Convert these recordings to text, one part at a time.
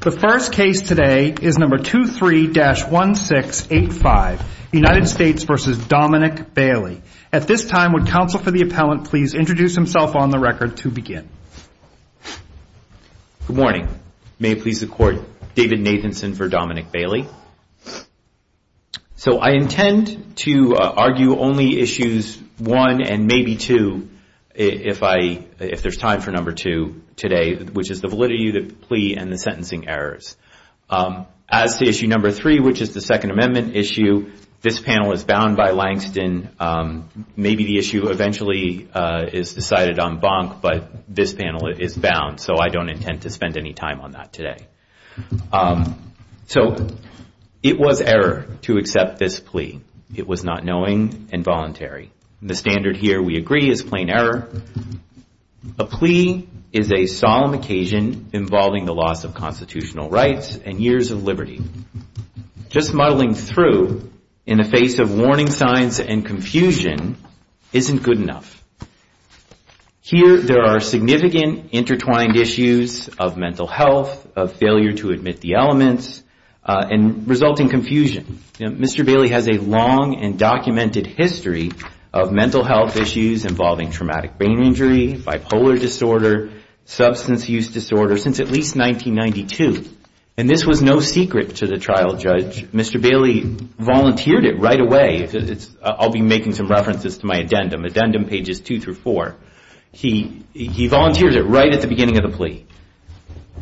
The first case today is number 23-1685, United States v. Dominic Bailey. At this time, would counsel for the appellant please introduce himself on the record to begin? Good morning. May it please the court, David Nathanson for Dominic Bailey. So I intend to argue only issues 1 and maybe 2 if there's time for number 2 today, which is the validity of the plea and the sentencing errors. As to issue number 3, which is the Second Amendment issue, this panel is bound by Langston. Maybe the issue eventually is decided on Bonk, but this panel is bound, so I don't intend to spend any time on that today. So it was error to accept this plea. It was not knowing and voluntary. The standard here, we agree, is plain error. A plea is a solemn occasion involving the loss of constitutional rights and years of Just muddling through in the face of warning signs and confusion isn't good enough. Here there are significant intertwined issues of mental health, of failure to admit the elements and resulting confusion. Mr. Bailey has a long and documented history of mental health issues involving traumatic brain injury, bipolar disorder, substance use disorder, since at least 1992. And this was no secret to the trial judge. Mr. Bailey volunteered it right away. I'll be making some references to my addendum, addendum pages 2 through 4. He volunteered it right at the beginning of the plea.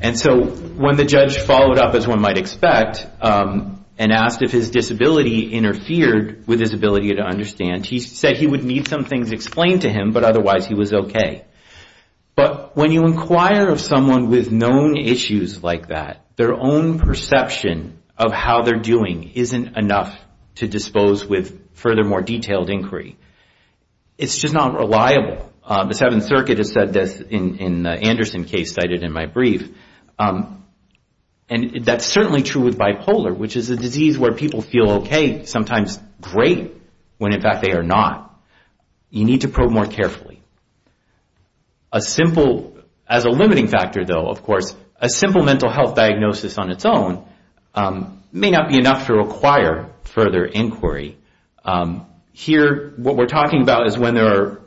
And so when the judge followed up, as one might expect, and asked if his disability interfered with his ability to understand, he said he would need some things explained to him, but otherwise he was OK. But when you inquire of someone with known issues like that, their own perception of how they're doing isn't enough to dispose with further more detailed inquiry. It's just not reliable. The Seventh Circuit has said this in the Anderson case cited in my brief. And that's certainly true with bipolar, which is a disease where people feel OK, sometimes great, when in fact they are not. You need to probe more carefully. A simple, as a limiting factor though, of course, a simple mental health diagnosis on its own may not be enough to require further inquiry. Here, what we're talking about is when there are,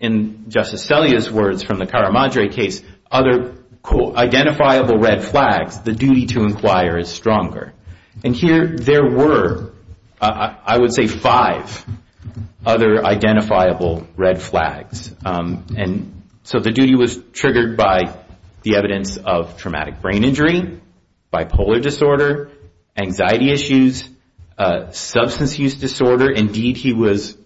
in Justice Sellea's words from the Caramadre case, other identifiable red flags, the duty to inquire is stronger. And here there were, I would say, five other identifiable red flags. And so the duty was triggered by the evidence of traumatic brain injury, bipolar disorder, anxiety issues, substance use disorder. Indeed, he was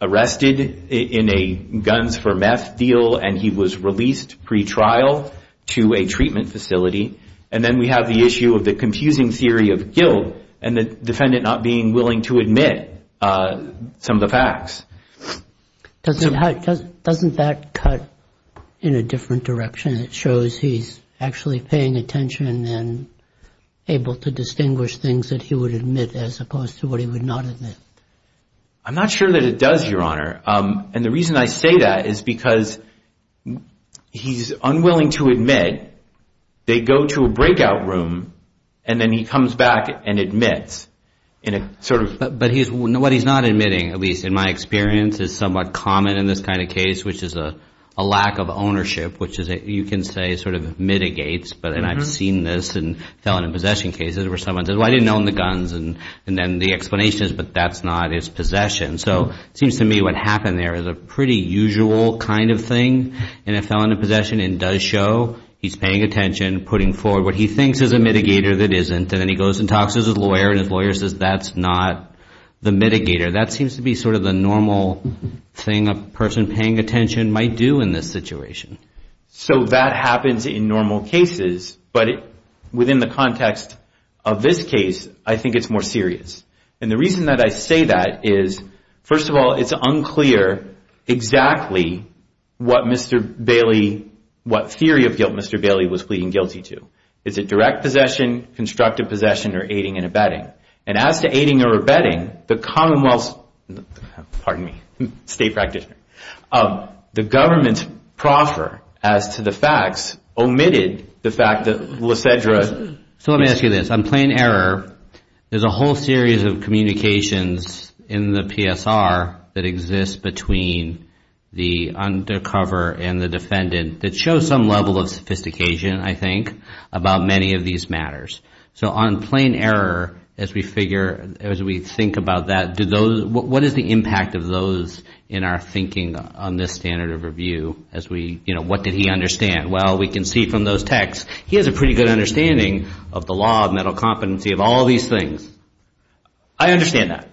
arrested in a guns for meth deal and he was released pre-trial to a treatment facility. And then we have the issue of the confusing theory of guilt and the defendant not being willing to admit some of the facts. Doesn't that cut in a different direction? It shows he's actually paying attention and able to distinguish things that he would admit as opposed to what he would not admit. I'm not sure that it does, Your Honor. And the reason I say that is because he's unwilling to admit. They go to a breakout room and then he comes back and admits. But what he's not admitting, at least in my experience, is somewhat common in this kind of case, which is a lack of ownership, which you can say sort of mitigates. And I've seen this in felon in possession cases where someone says, well, I didn't own the guns. And then the explanation is, but that's not his possession. So it seems to me what happened there is a pretty usual kind of thing in a felon in possession and does show he's paying attention, putting forward what he thinks is a mitigator that isn't. And then he goes and talks to his lawyer and his lawyer says, that's not the mitigator. That seems to be sort of the normal thing a person paying attention might do in this situation. So that happens in normal cases. But within the context of this case, I think it's more serious. And the reason that I say that is, first of all, it's unclear exactly what Mr. Bailey, what theory of guilt Mr. Bailey was pleading guilty to. Is it direct possession, constructive possession, or aiding and abetting? And as to aiding or abetting, the commonwealth's, pardon me, state practitioner, the government's proffer as to the facts omitted the fact that Lysedra. So let me ask you this. On plain error, there's a whole series of communications in the PSR that exists between the undercover and the defendant that show some level of sophistication, I think, about many of these matters. So on plain error, as we figure, as we think about that, what is the impact of those in our thinking on this standard of review? As we, you know, what did he understand? Well, we can see from those texts, he has a pretty good understanding of the law of mental competency of all these things. I understand that.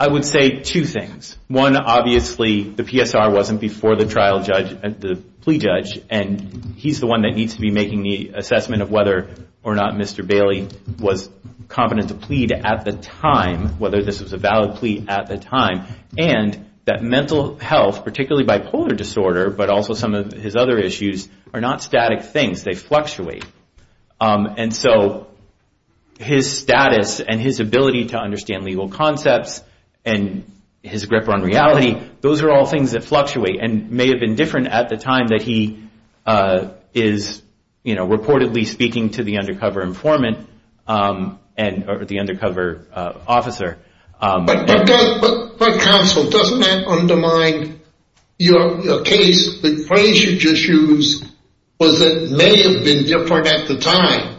I would say two things. One, obviously, the PSR wasn't before the trial judge, the plea judge, and he's the making the assessment of whether or not Mr. Bailey was competent to plead at the time, whether this was a valid plea at the time. And that mental health, particularly bipolar disorder, but also some of his other issues, are not static things. They fluctuate. And so his status and his ability to understand legal concepts and his grip on reality, those are all things that fluctuate and may have been different at the time that he is, you know, reportedly speaking to the undercover informant or the undercover officer. But counsel, doesn't that undermine your case? The phrase you just used was that it may have been different at the time.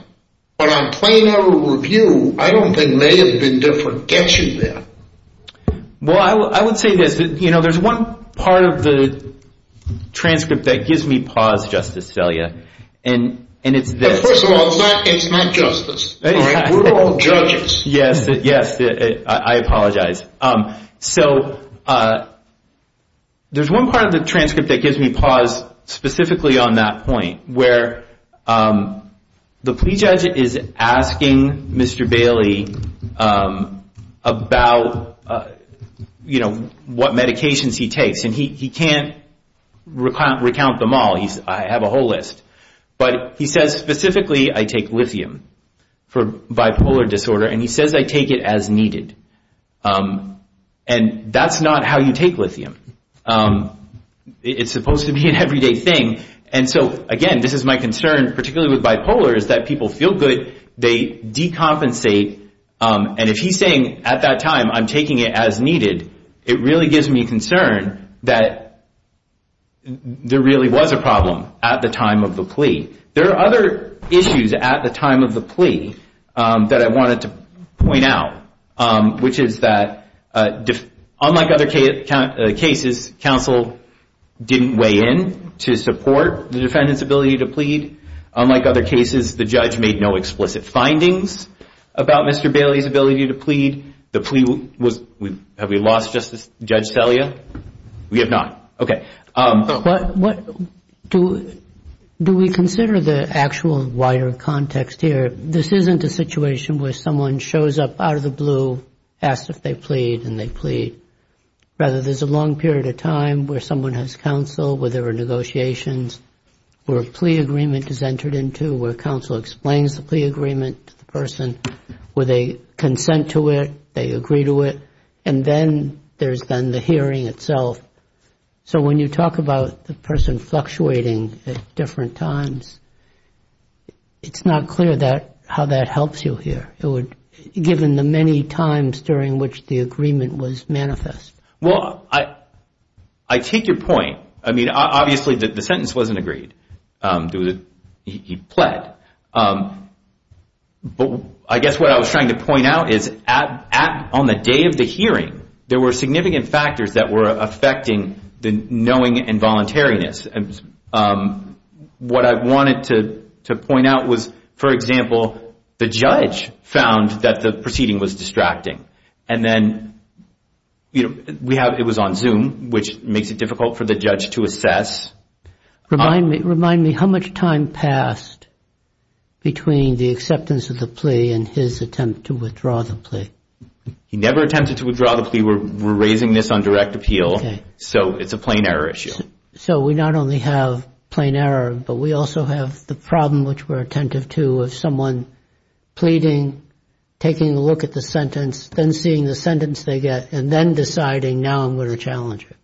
But on plain error review, I don't think may have been different gets you there. Well, I would say this, you know, there's one part of the transcript that gives me pause, Justice Salia, and it's this. First of all, it's not justice. We're all judges. Yes. Yes. I apologize. So there's one part of the transcript that gives me pause specifically on that point where the plea judge is asking Mr. Bailey about, you know, what medications he takes. And he can't recount them all. I have a whole list. But he says specifically, I take lithium for bipolar disorder, and he says I take it as needed. And that's not how you take lithium. It's supposed to be an everyday thing. And so, again, this is my concern, particularly with bipolar, is that people feel good, they decompensate. And if he's saying at that time, I'm taking it as needed, it really gives me concern that there really was a problem at the time of the plea. There are other issues at the time of the plea that I wanted to point out, which is that unlike other cases, counsel didn't weigh in to support the defendant's ability to plead. Unlike other cases, the judge made no explicit findings about Mr. Bailey's ability to plead. The plea was, have we lost Justice Judge Salia? We have not. Okay. But what do we consider the actual wider context here? This isn't a situation where someone shows up out of the blue, asks if they plead, and they plead. Rather, there's a long period of time where someone has counsel, where there are negotiations, where a plea agreement is entered into, where counsel explains the plea agreement to the person, where they consent to it, they agree to it, and then there's then the hearing itself. So when you talk about the person fluctuating at different times, it's not clear how that helps you here. Given the many times during which the agreement was manifest. Well, I take your point. I mean, obviously the sentence wasn't agreed. He pled. But I guess what I was trying to point out is on the day of the hearing, there were significant factors that were affecting the knowing and voluntariness. What I wanted to point out was, for example, the judge found that the proceeding was distracting. And then it was on Zoom, which makes it difficult for the judge to assess. Remind me, how much time passed between the acceptance of the plea and his attempt to withdraw the plea? He never attempted to withdraw the plea. We're raising this on direct appeal, so it's a plain error issue. So we not only have plain error, but we also have the problem, which we're attentive to, of someone pleading, taking a look at the sentence, then seeing the sentence they get, and then deciding now I'm going to challenge it.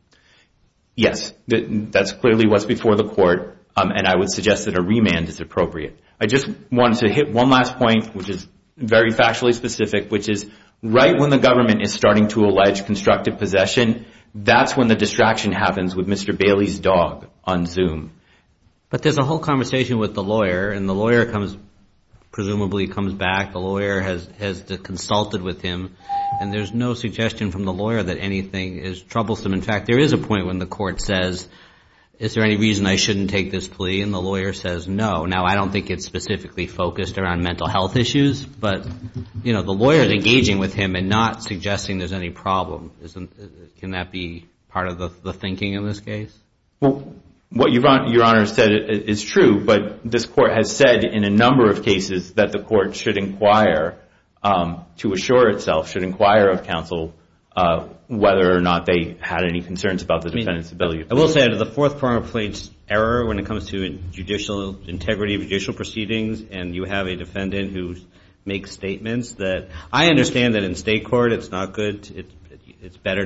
Yes, that's clearly what's before the court, and I would suggest that a remand is appropriate. I just wanted to hit one last point, which is very factually specific, which is right when the government is starting to allege constructive possession, that's when the distraction happens with Mr. Bailey's dog on Zoom. But there's a whole conversation with the lawyer, and the lawyer presumably comes back. The lawyer has consulted with him, and there's no suggestion from the lawyer that anything is troublesome. In fact, there is a point when the court says, is there any reason I shouldn't take this plea? And the lawyer says, no. Now, I don't think it's specifically focused around mental health issues, but the lawyer is engaging with him and not suggesting there's any problem. Can that be part of the thinking in this case? Well, what Your Honor said is true, but this court has said in a number of cases that the court should inquire, to assure itself, should inquire of counsel whether or not they had any concerns about the defendant's ability to plead. I will say, out of the fourth primary plaintiff's error, when it comes to judicial integrity, judicial proceedings, and you have a defendant who makes statements that, I understand that in state court it's not good, it's better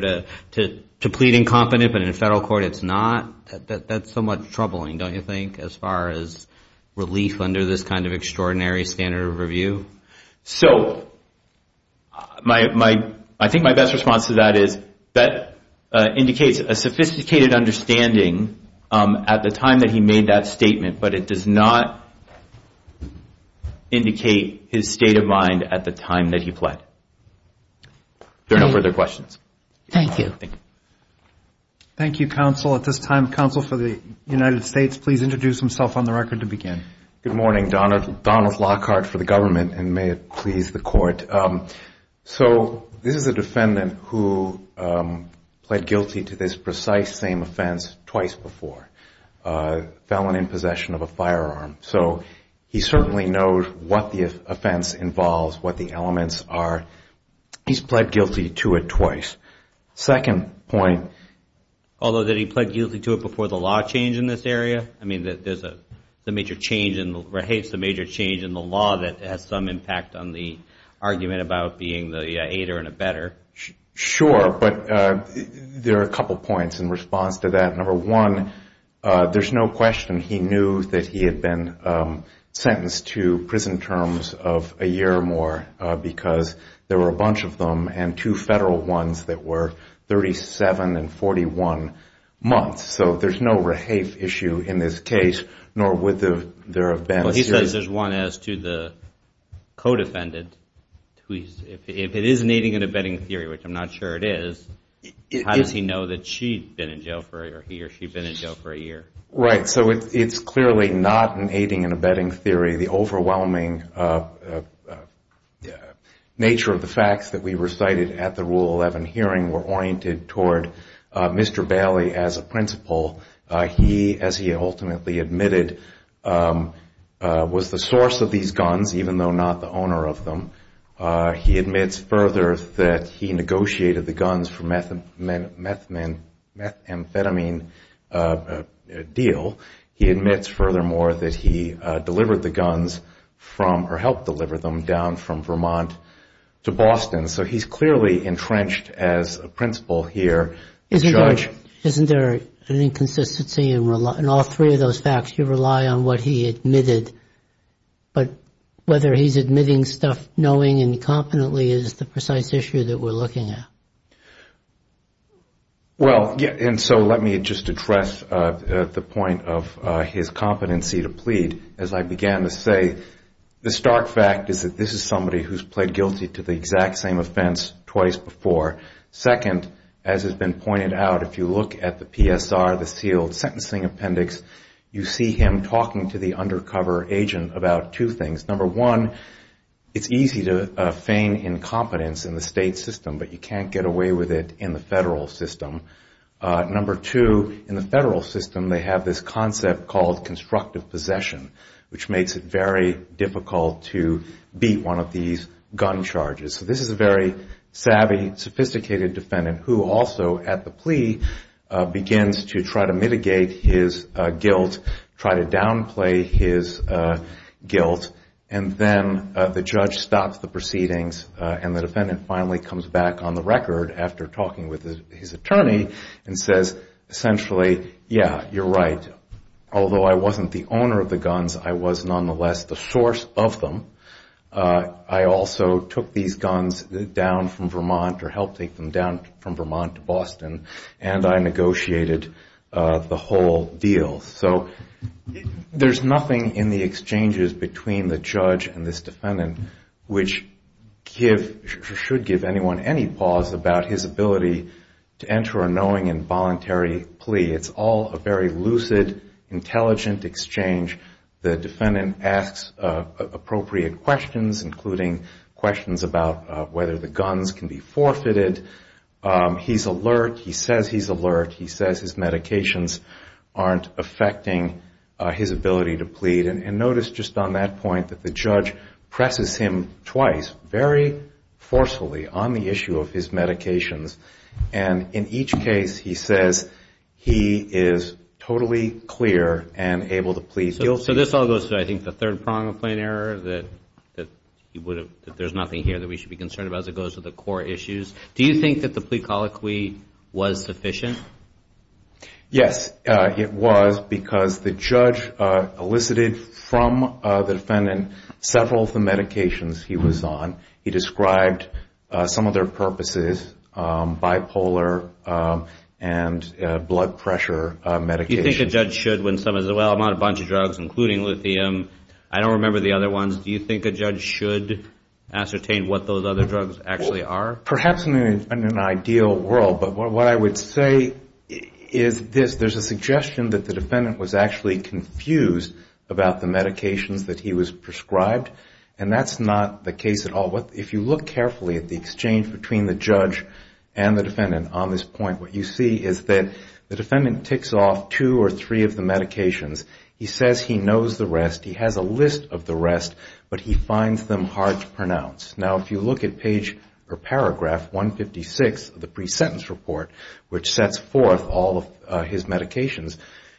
to plead incompetent, but in federal court it's not. That's somewhat troubling, don't you think, as far as relief under this kind of extraordinary standard of review? So, I think my best response to that is, that indicates a sophisticated understanding at the time that he made that statement, but it does not indicate his state of mind at the time that he pled. Are there no further questions? Thank you. Thank you, counsel. At this time, counsel for the United States, please introduce himself on the record to begin. Good morning. Donald Lockhart for the government, and may it please the court. So, this is a defendant who pled guilty to this precise same offense twice before. Felon in possession of a firearm. So, he certainly knows what the offense involves, what the elements are. He's pled guilty to it twice. Second point. Although, did he pled guilty to it before the law change in this area? I mean, there's a major change in the law that has some impact on the argument about being the aider and abetter. Sure, but there are a couple points in response to that. Number one, there's no question he knew that he had been sentenced to prison terms of a year or more, because there were a bunch of them, and two federal ones that were 37 and 41 months. So, there's no rehafe issue in this case, nor would there have been. Well, he says there's one as to the co-defendant. If it is an aiding and abetting theory, which I'm not sure it is, how does he know that she'd been in jail for a year? Right, so it's clearly not an aiding and abetting theory. The overwhelming nature of the facts that we recited at the Rule 11 hearing were oriented toward Mr. Bailey as a principal. He, as he ultimately admitted, was the source of these guns, even though not the owner of them. He admits further that he negotiated the guns for methamphetamine deal. He admits furthermore that he delivered the guns, or helped deliver them, down from Vermont to Boston. So, he's clearly entrenched as a principal here. Isn't there an inconsistency in all three of those facts? You rely on what he admitted, but whether he's admitting stuff knowing and confidently is the precise issue that we're looking at. Well, and so let me just address the point of his competency to plead. As I began to say, the stark fact is that this is somebody who's pled guilty to the exact same offense twice before. Second, as has been pointed out, if you look at the PSR, the sealed sentencing appendix, you see him talking to the undercover agent about two things. Number one, it's easy to feign incompetence in the state system, but you can't get away with it in the federal system. Number two, in the federal system, they have this concept called constructive possession, which makes it very difficult to beat one of these gun charges. So, this is a very savvy, sophisticated defendant, who also, at the plea, begins to try to mitigate his guilt, try to downplay his guilt, and then the judge stops the proceedings and the defendant finally comes back on the record after talking with his attorney and says, essentially, yeah, you're right. Although I wasn't the owner of the guns, I was nonetheless the source of them. I also took these guns down from Vermont or helped take them down from Vermont to Boston, and I negotiated the whole deal. So, there's nothing in the exchanges between the judge and this defendant which should give anyone any pause about his ability to enter a knowing and voluntary plea. It's all a very lucid, intelligent exchange. The defendant asks appropriate questions, including questions about whether the guns can be forfeited. He's alert. He says he's alert. He says his medications aren't affecting his ability to plead. And notice, just on that point, that the judge presses him twice very forcefully on the issue of his medications. And in each case, he says he is totally clear and able to plead guilty. So, this all goes to, I think, the third prong of plain error, that there's nothing here that we should be concerned about as it goes to the core issues. Do you think that the plea colloquy was sufficient? Yes, it was, because the judge elicited from the defendant several of the medications he was on. He described some of their purposes, bipolar and blood pressure medications. Do you think a judge should, when someone says, well, I'm on a bunch of drugs, including lithium, I don't remember the other ones, do you think a judge should ascertain what those other drugs actually are? Perhaps in an ideal world, but what I would say is this. There's a suggestion that the defendant was actually confused about the medications that he was prescribed. And that's not the case at all. If you look carefully at the exchange between the judge and the defendant on this point, what you see is that the defendant ticks off two or three of the medications. He says he knows the rest. He has a list of the rest, but he finds them hard to pronounce. Now, if you look at page or paragraph 156 of the pre-sentence report, which sets forth all of his medications,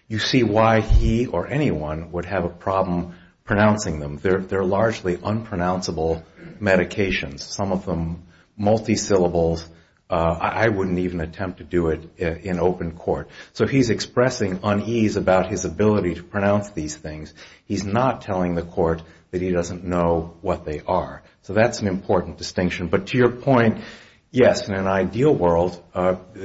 you see why he or anyone would have a problem pronouncing them. They're largely unpronounceable medications. Some of them multi-syllables. I wouldn't even attempt to do it in open court. So he's expressing unease about his ability to pronounce these things. He's not telling the court that he doesn't know what they are. So that's an important distinction. But to your point, yes, in an ideal world,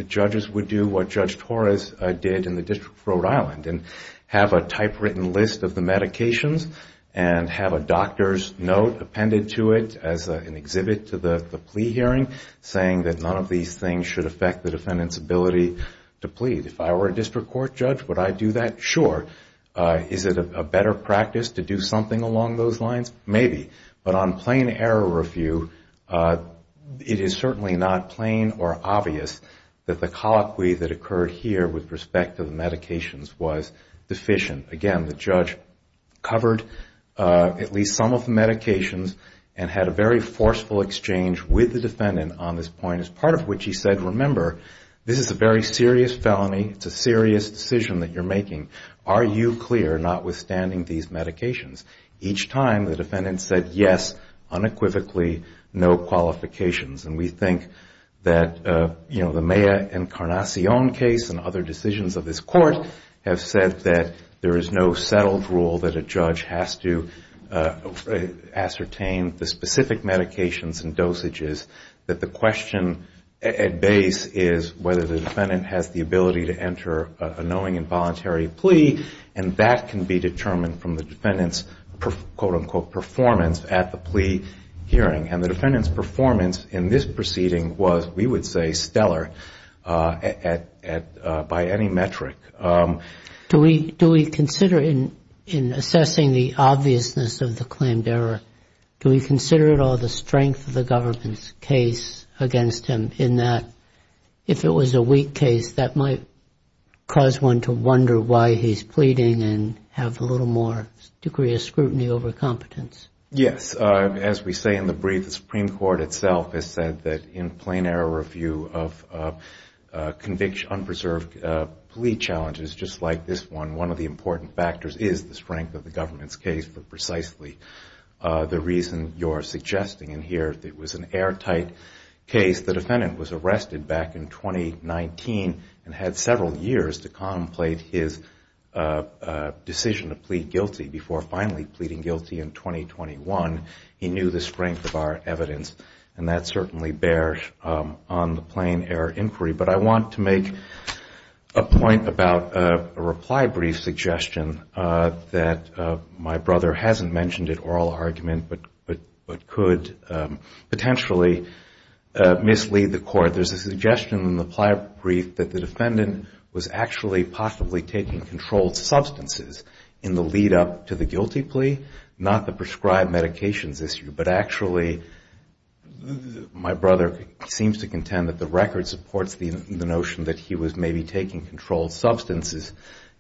judges would do what Judge Torres did in the District of Rhode Island and have a typewritten list of the medications and have a doctor's note appended to it as an exhibit to the plea hearing saying that none of these things should affect the defendant's ability to plead. If I were a district court judge, would I do that? Sure. Is it a better practice to do something along those lines? Maybe. But on plain error review, it is certainly not plain or obvious that the colloquy that occurred here with respect to the medications was deficient. Again, the judge covered at least some of the medications and had a very forceful exchange with the defendant on this point, as part of which he said, remember, this is a very serious felony. It's a serious decision that you're making. Are you clear, notwithstanding these medications? Each time, the defendant said, yes, unequivocally, no qualifications. And we think that the Maya Encarnacion case and other decisions of this court have said that there is no settled rule that a judge has to ascertain the specific medications and dosages, that the question at base is whether the defendant has the ability to enter a knowing and voluntary plea, and that can be determined from the defendant's quote, unquote, performance at the plea hearing. And the defendant's performance in this proceeding was, we would say, stellar by any metric. Do we consider in assessing the obviousness of the claimed error, do we consider at all the strength of the government's case against him in that, if it was a weak case, that might cause one to wonder why he's pleading and have a little more degree of scrutiny over competence? Yes. As we say in the brief, the Supreme Court itself has said that in plain error review of unpreserved plea challenges, just like this one, one of the important factors is the strength of the government's case for precisely the reason you're suggesting in here. If it was an airtight case, the defendant was arrested back in 2019 and had several years to contemplate his decision to plead guilty before finally pleading guilty in 2021. He knew the strength of our evidence, and that certainly bears on the plain error inquiry. But I want to make a point about a reply brief suggestion that my brother hasn't mentioned at oral argument, but could potentially mislead the Court. There's a suggestion in the reply brief that the defendant was actually possibly taking controlled substances in the lead-up to the guilty plea, not the prescribed medications issue. But actually, my brother seems to contend that the record supports the notion that he was maybe taking controlled substances,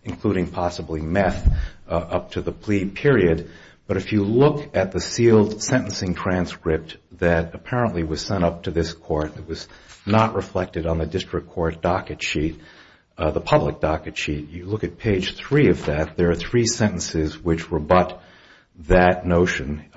including possibly meth, up to the plea period. But if you look at the sealed sentencing transcript that apparently was sent up to this Court that was not reflected on the district court docket sheet, the public docket sheet, you look at page three of that, there are three sentences which rebut that notion.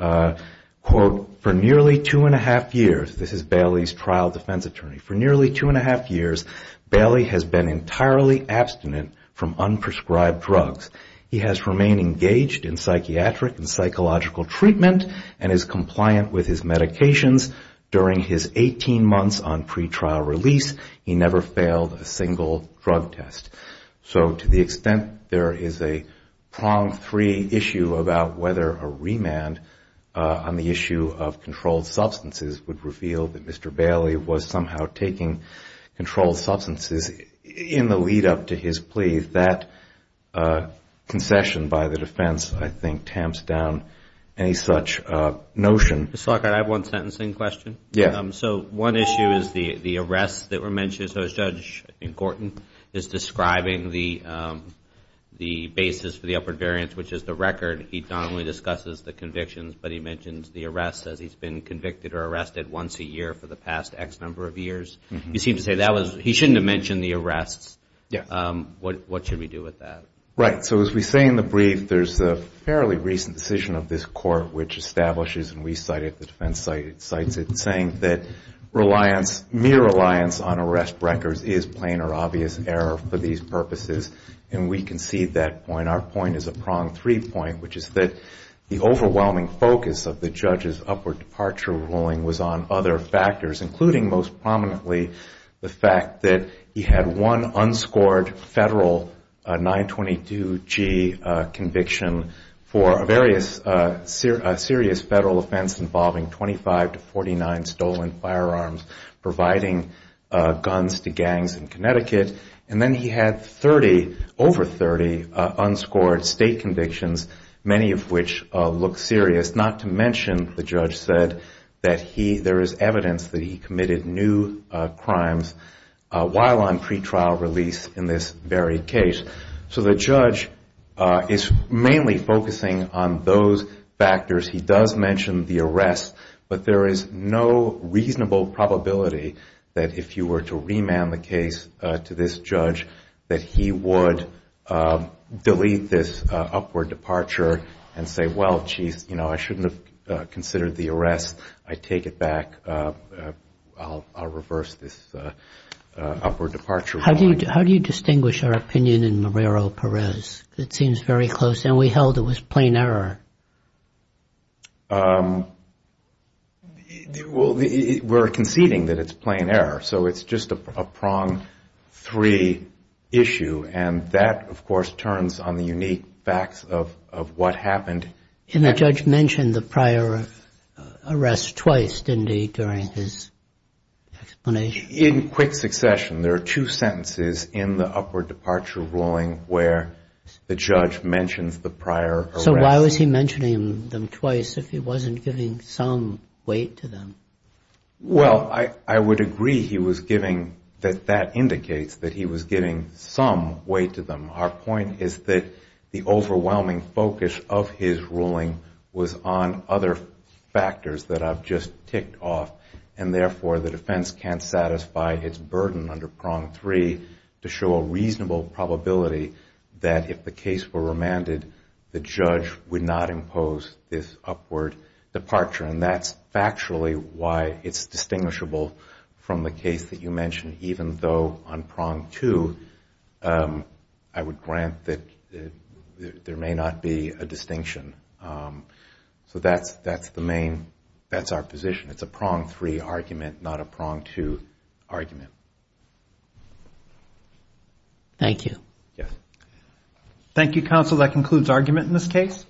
Quote, for nearly two and a half years, this is Bailey's trial defense attorney, for nearly two and a half years Bailey has been entirely abstinent from unprescribed drugs. He has remained engaged in psychiatric and psychological treatment and is compliant with his medications. During his 18 months on pretrial release, he never failed a single drug test. So to the extent there is a prong-free issue about whether a remand on the issue of controlled substances would reveal that Mr. Bailey was somehow taking controlled substances in the lead up to his plea, that concession by the defense I think tamps down any such notion. Mr. Lockhart, I have one sentencing question. So one issue is the arrests that were mentioned. So Judge Gorton is describing the basis for the upward variance, which is the record. He not only discusses the convictions, but he mentions the arrests as he's been convicted or arrested once a year for the past X number of years. You seem to say he shouldn't have mentioned the arrests. What should we do with that? Right. So as we say in the brief, there's a fairly recent decision of this court which establishes, and we cite it, the defense cites it, saying that mere reliance on arrest records is plain or obvious error for these purposes. And we concede that point. Our point is a prong-free point, which is that the overwhelming focus of the judge's upward departure ruling was on other factors, including most prominently the fact that he had one unscored federal 922G conviction for a serious federal offense involving 25 to 49 stolen firearms, providing guns to gangs in Connecticut. And then he had 30, over 30, unscored state convictions, many of which look serious, not to mention, the judge said, that there is evidence that he committed new crimes while on pretrial release in this very case. So the judge is mainly focusing on those factors. He does mention the arrests, but there is no reasonable probability that if you were to remand the case to this judge that he would delete this upward departure and say, well, I shouldn't have considered the arrest. I take it back. I'll reverse this upward departure ruling. How do you distinguish our opinion in Marrero-Perez? It seems very close. And we held it was plain error. We're conceding that it's plain error. So it's just a prong-free issue. And that, of course, turns on the unique facts of what happened. And the judge mentioned the prior arrests twice, didn't he, during his explanation? In quick succession. There are two sentences in the upward departure ruling where the judge mentions the prior arrests. So why was he mentioning them twice if he wasn't giving some weight to them? Well, I would agree he was giving, that that indicates that he was giving some weight to them. Our point is that the overwhelming focus of his ruling was on other factors that I've just ticked off. And therefore, the defense can't satisfy its burden under prong three to show a reasonable probability that if the case were remanded, the judge would not impose this upward departure. And that's factually why it's distinguishable from the case that you mentioned, even though on prong two, I would grant that there may not be a distinction. So that's the main, that's our position. It's a prong-free argument, not a prong-two argument. Thank you. Yes. Thank you, Counsel. That concludes argument in this case.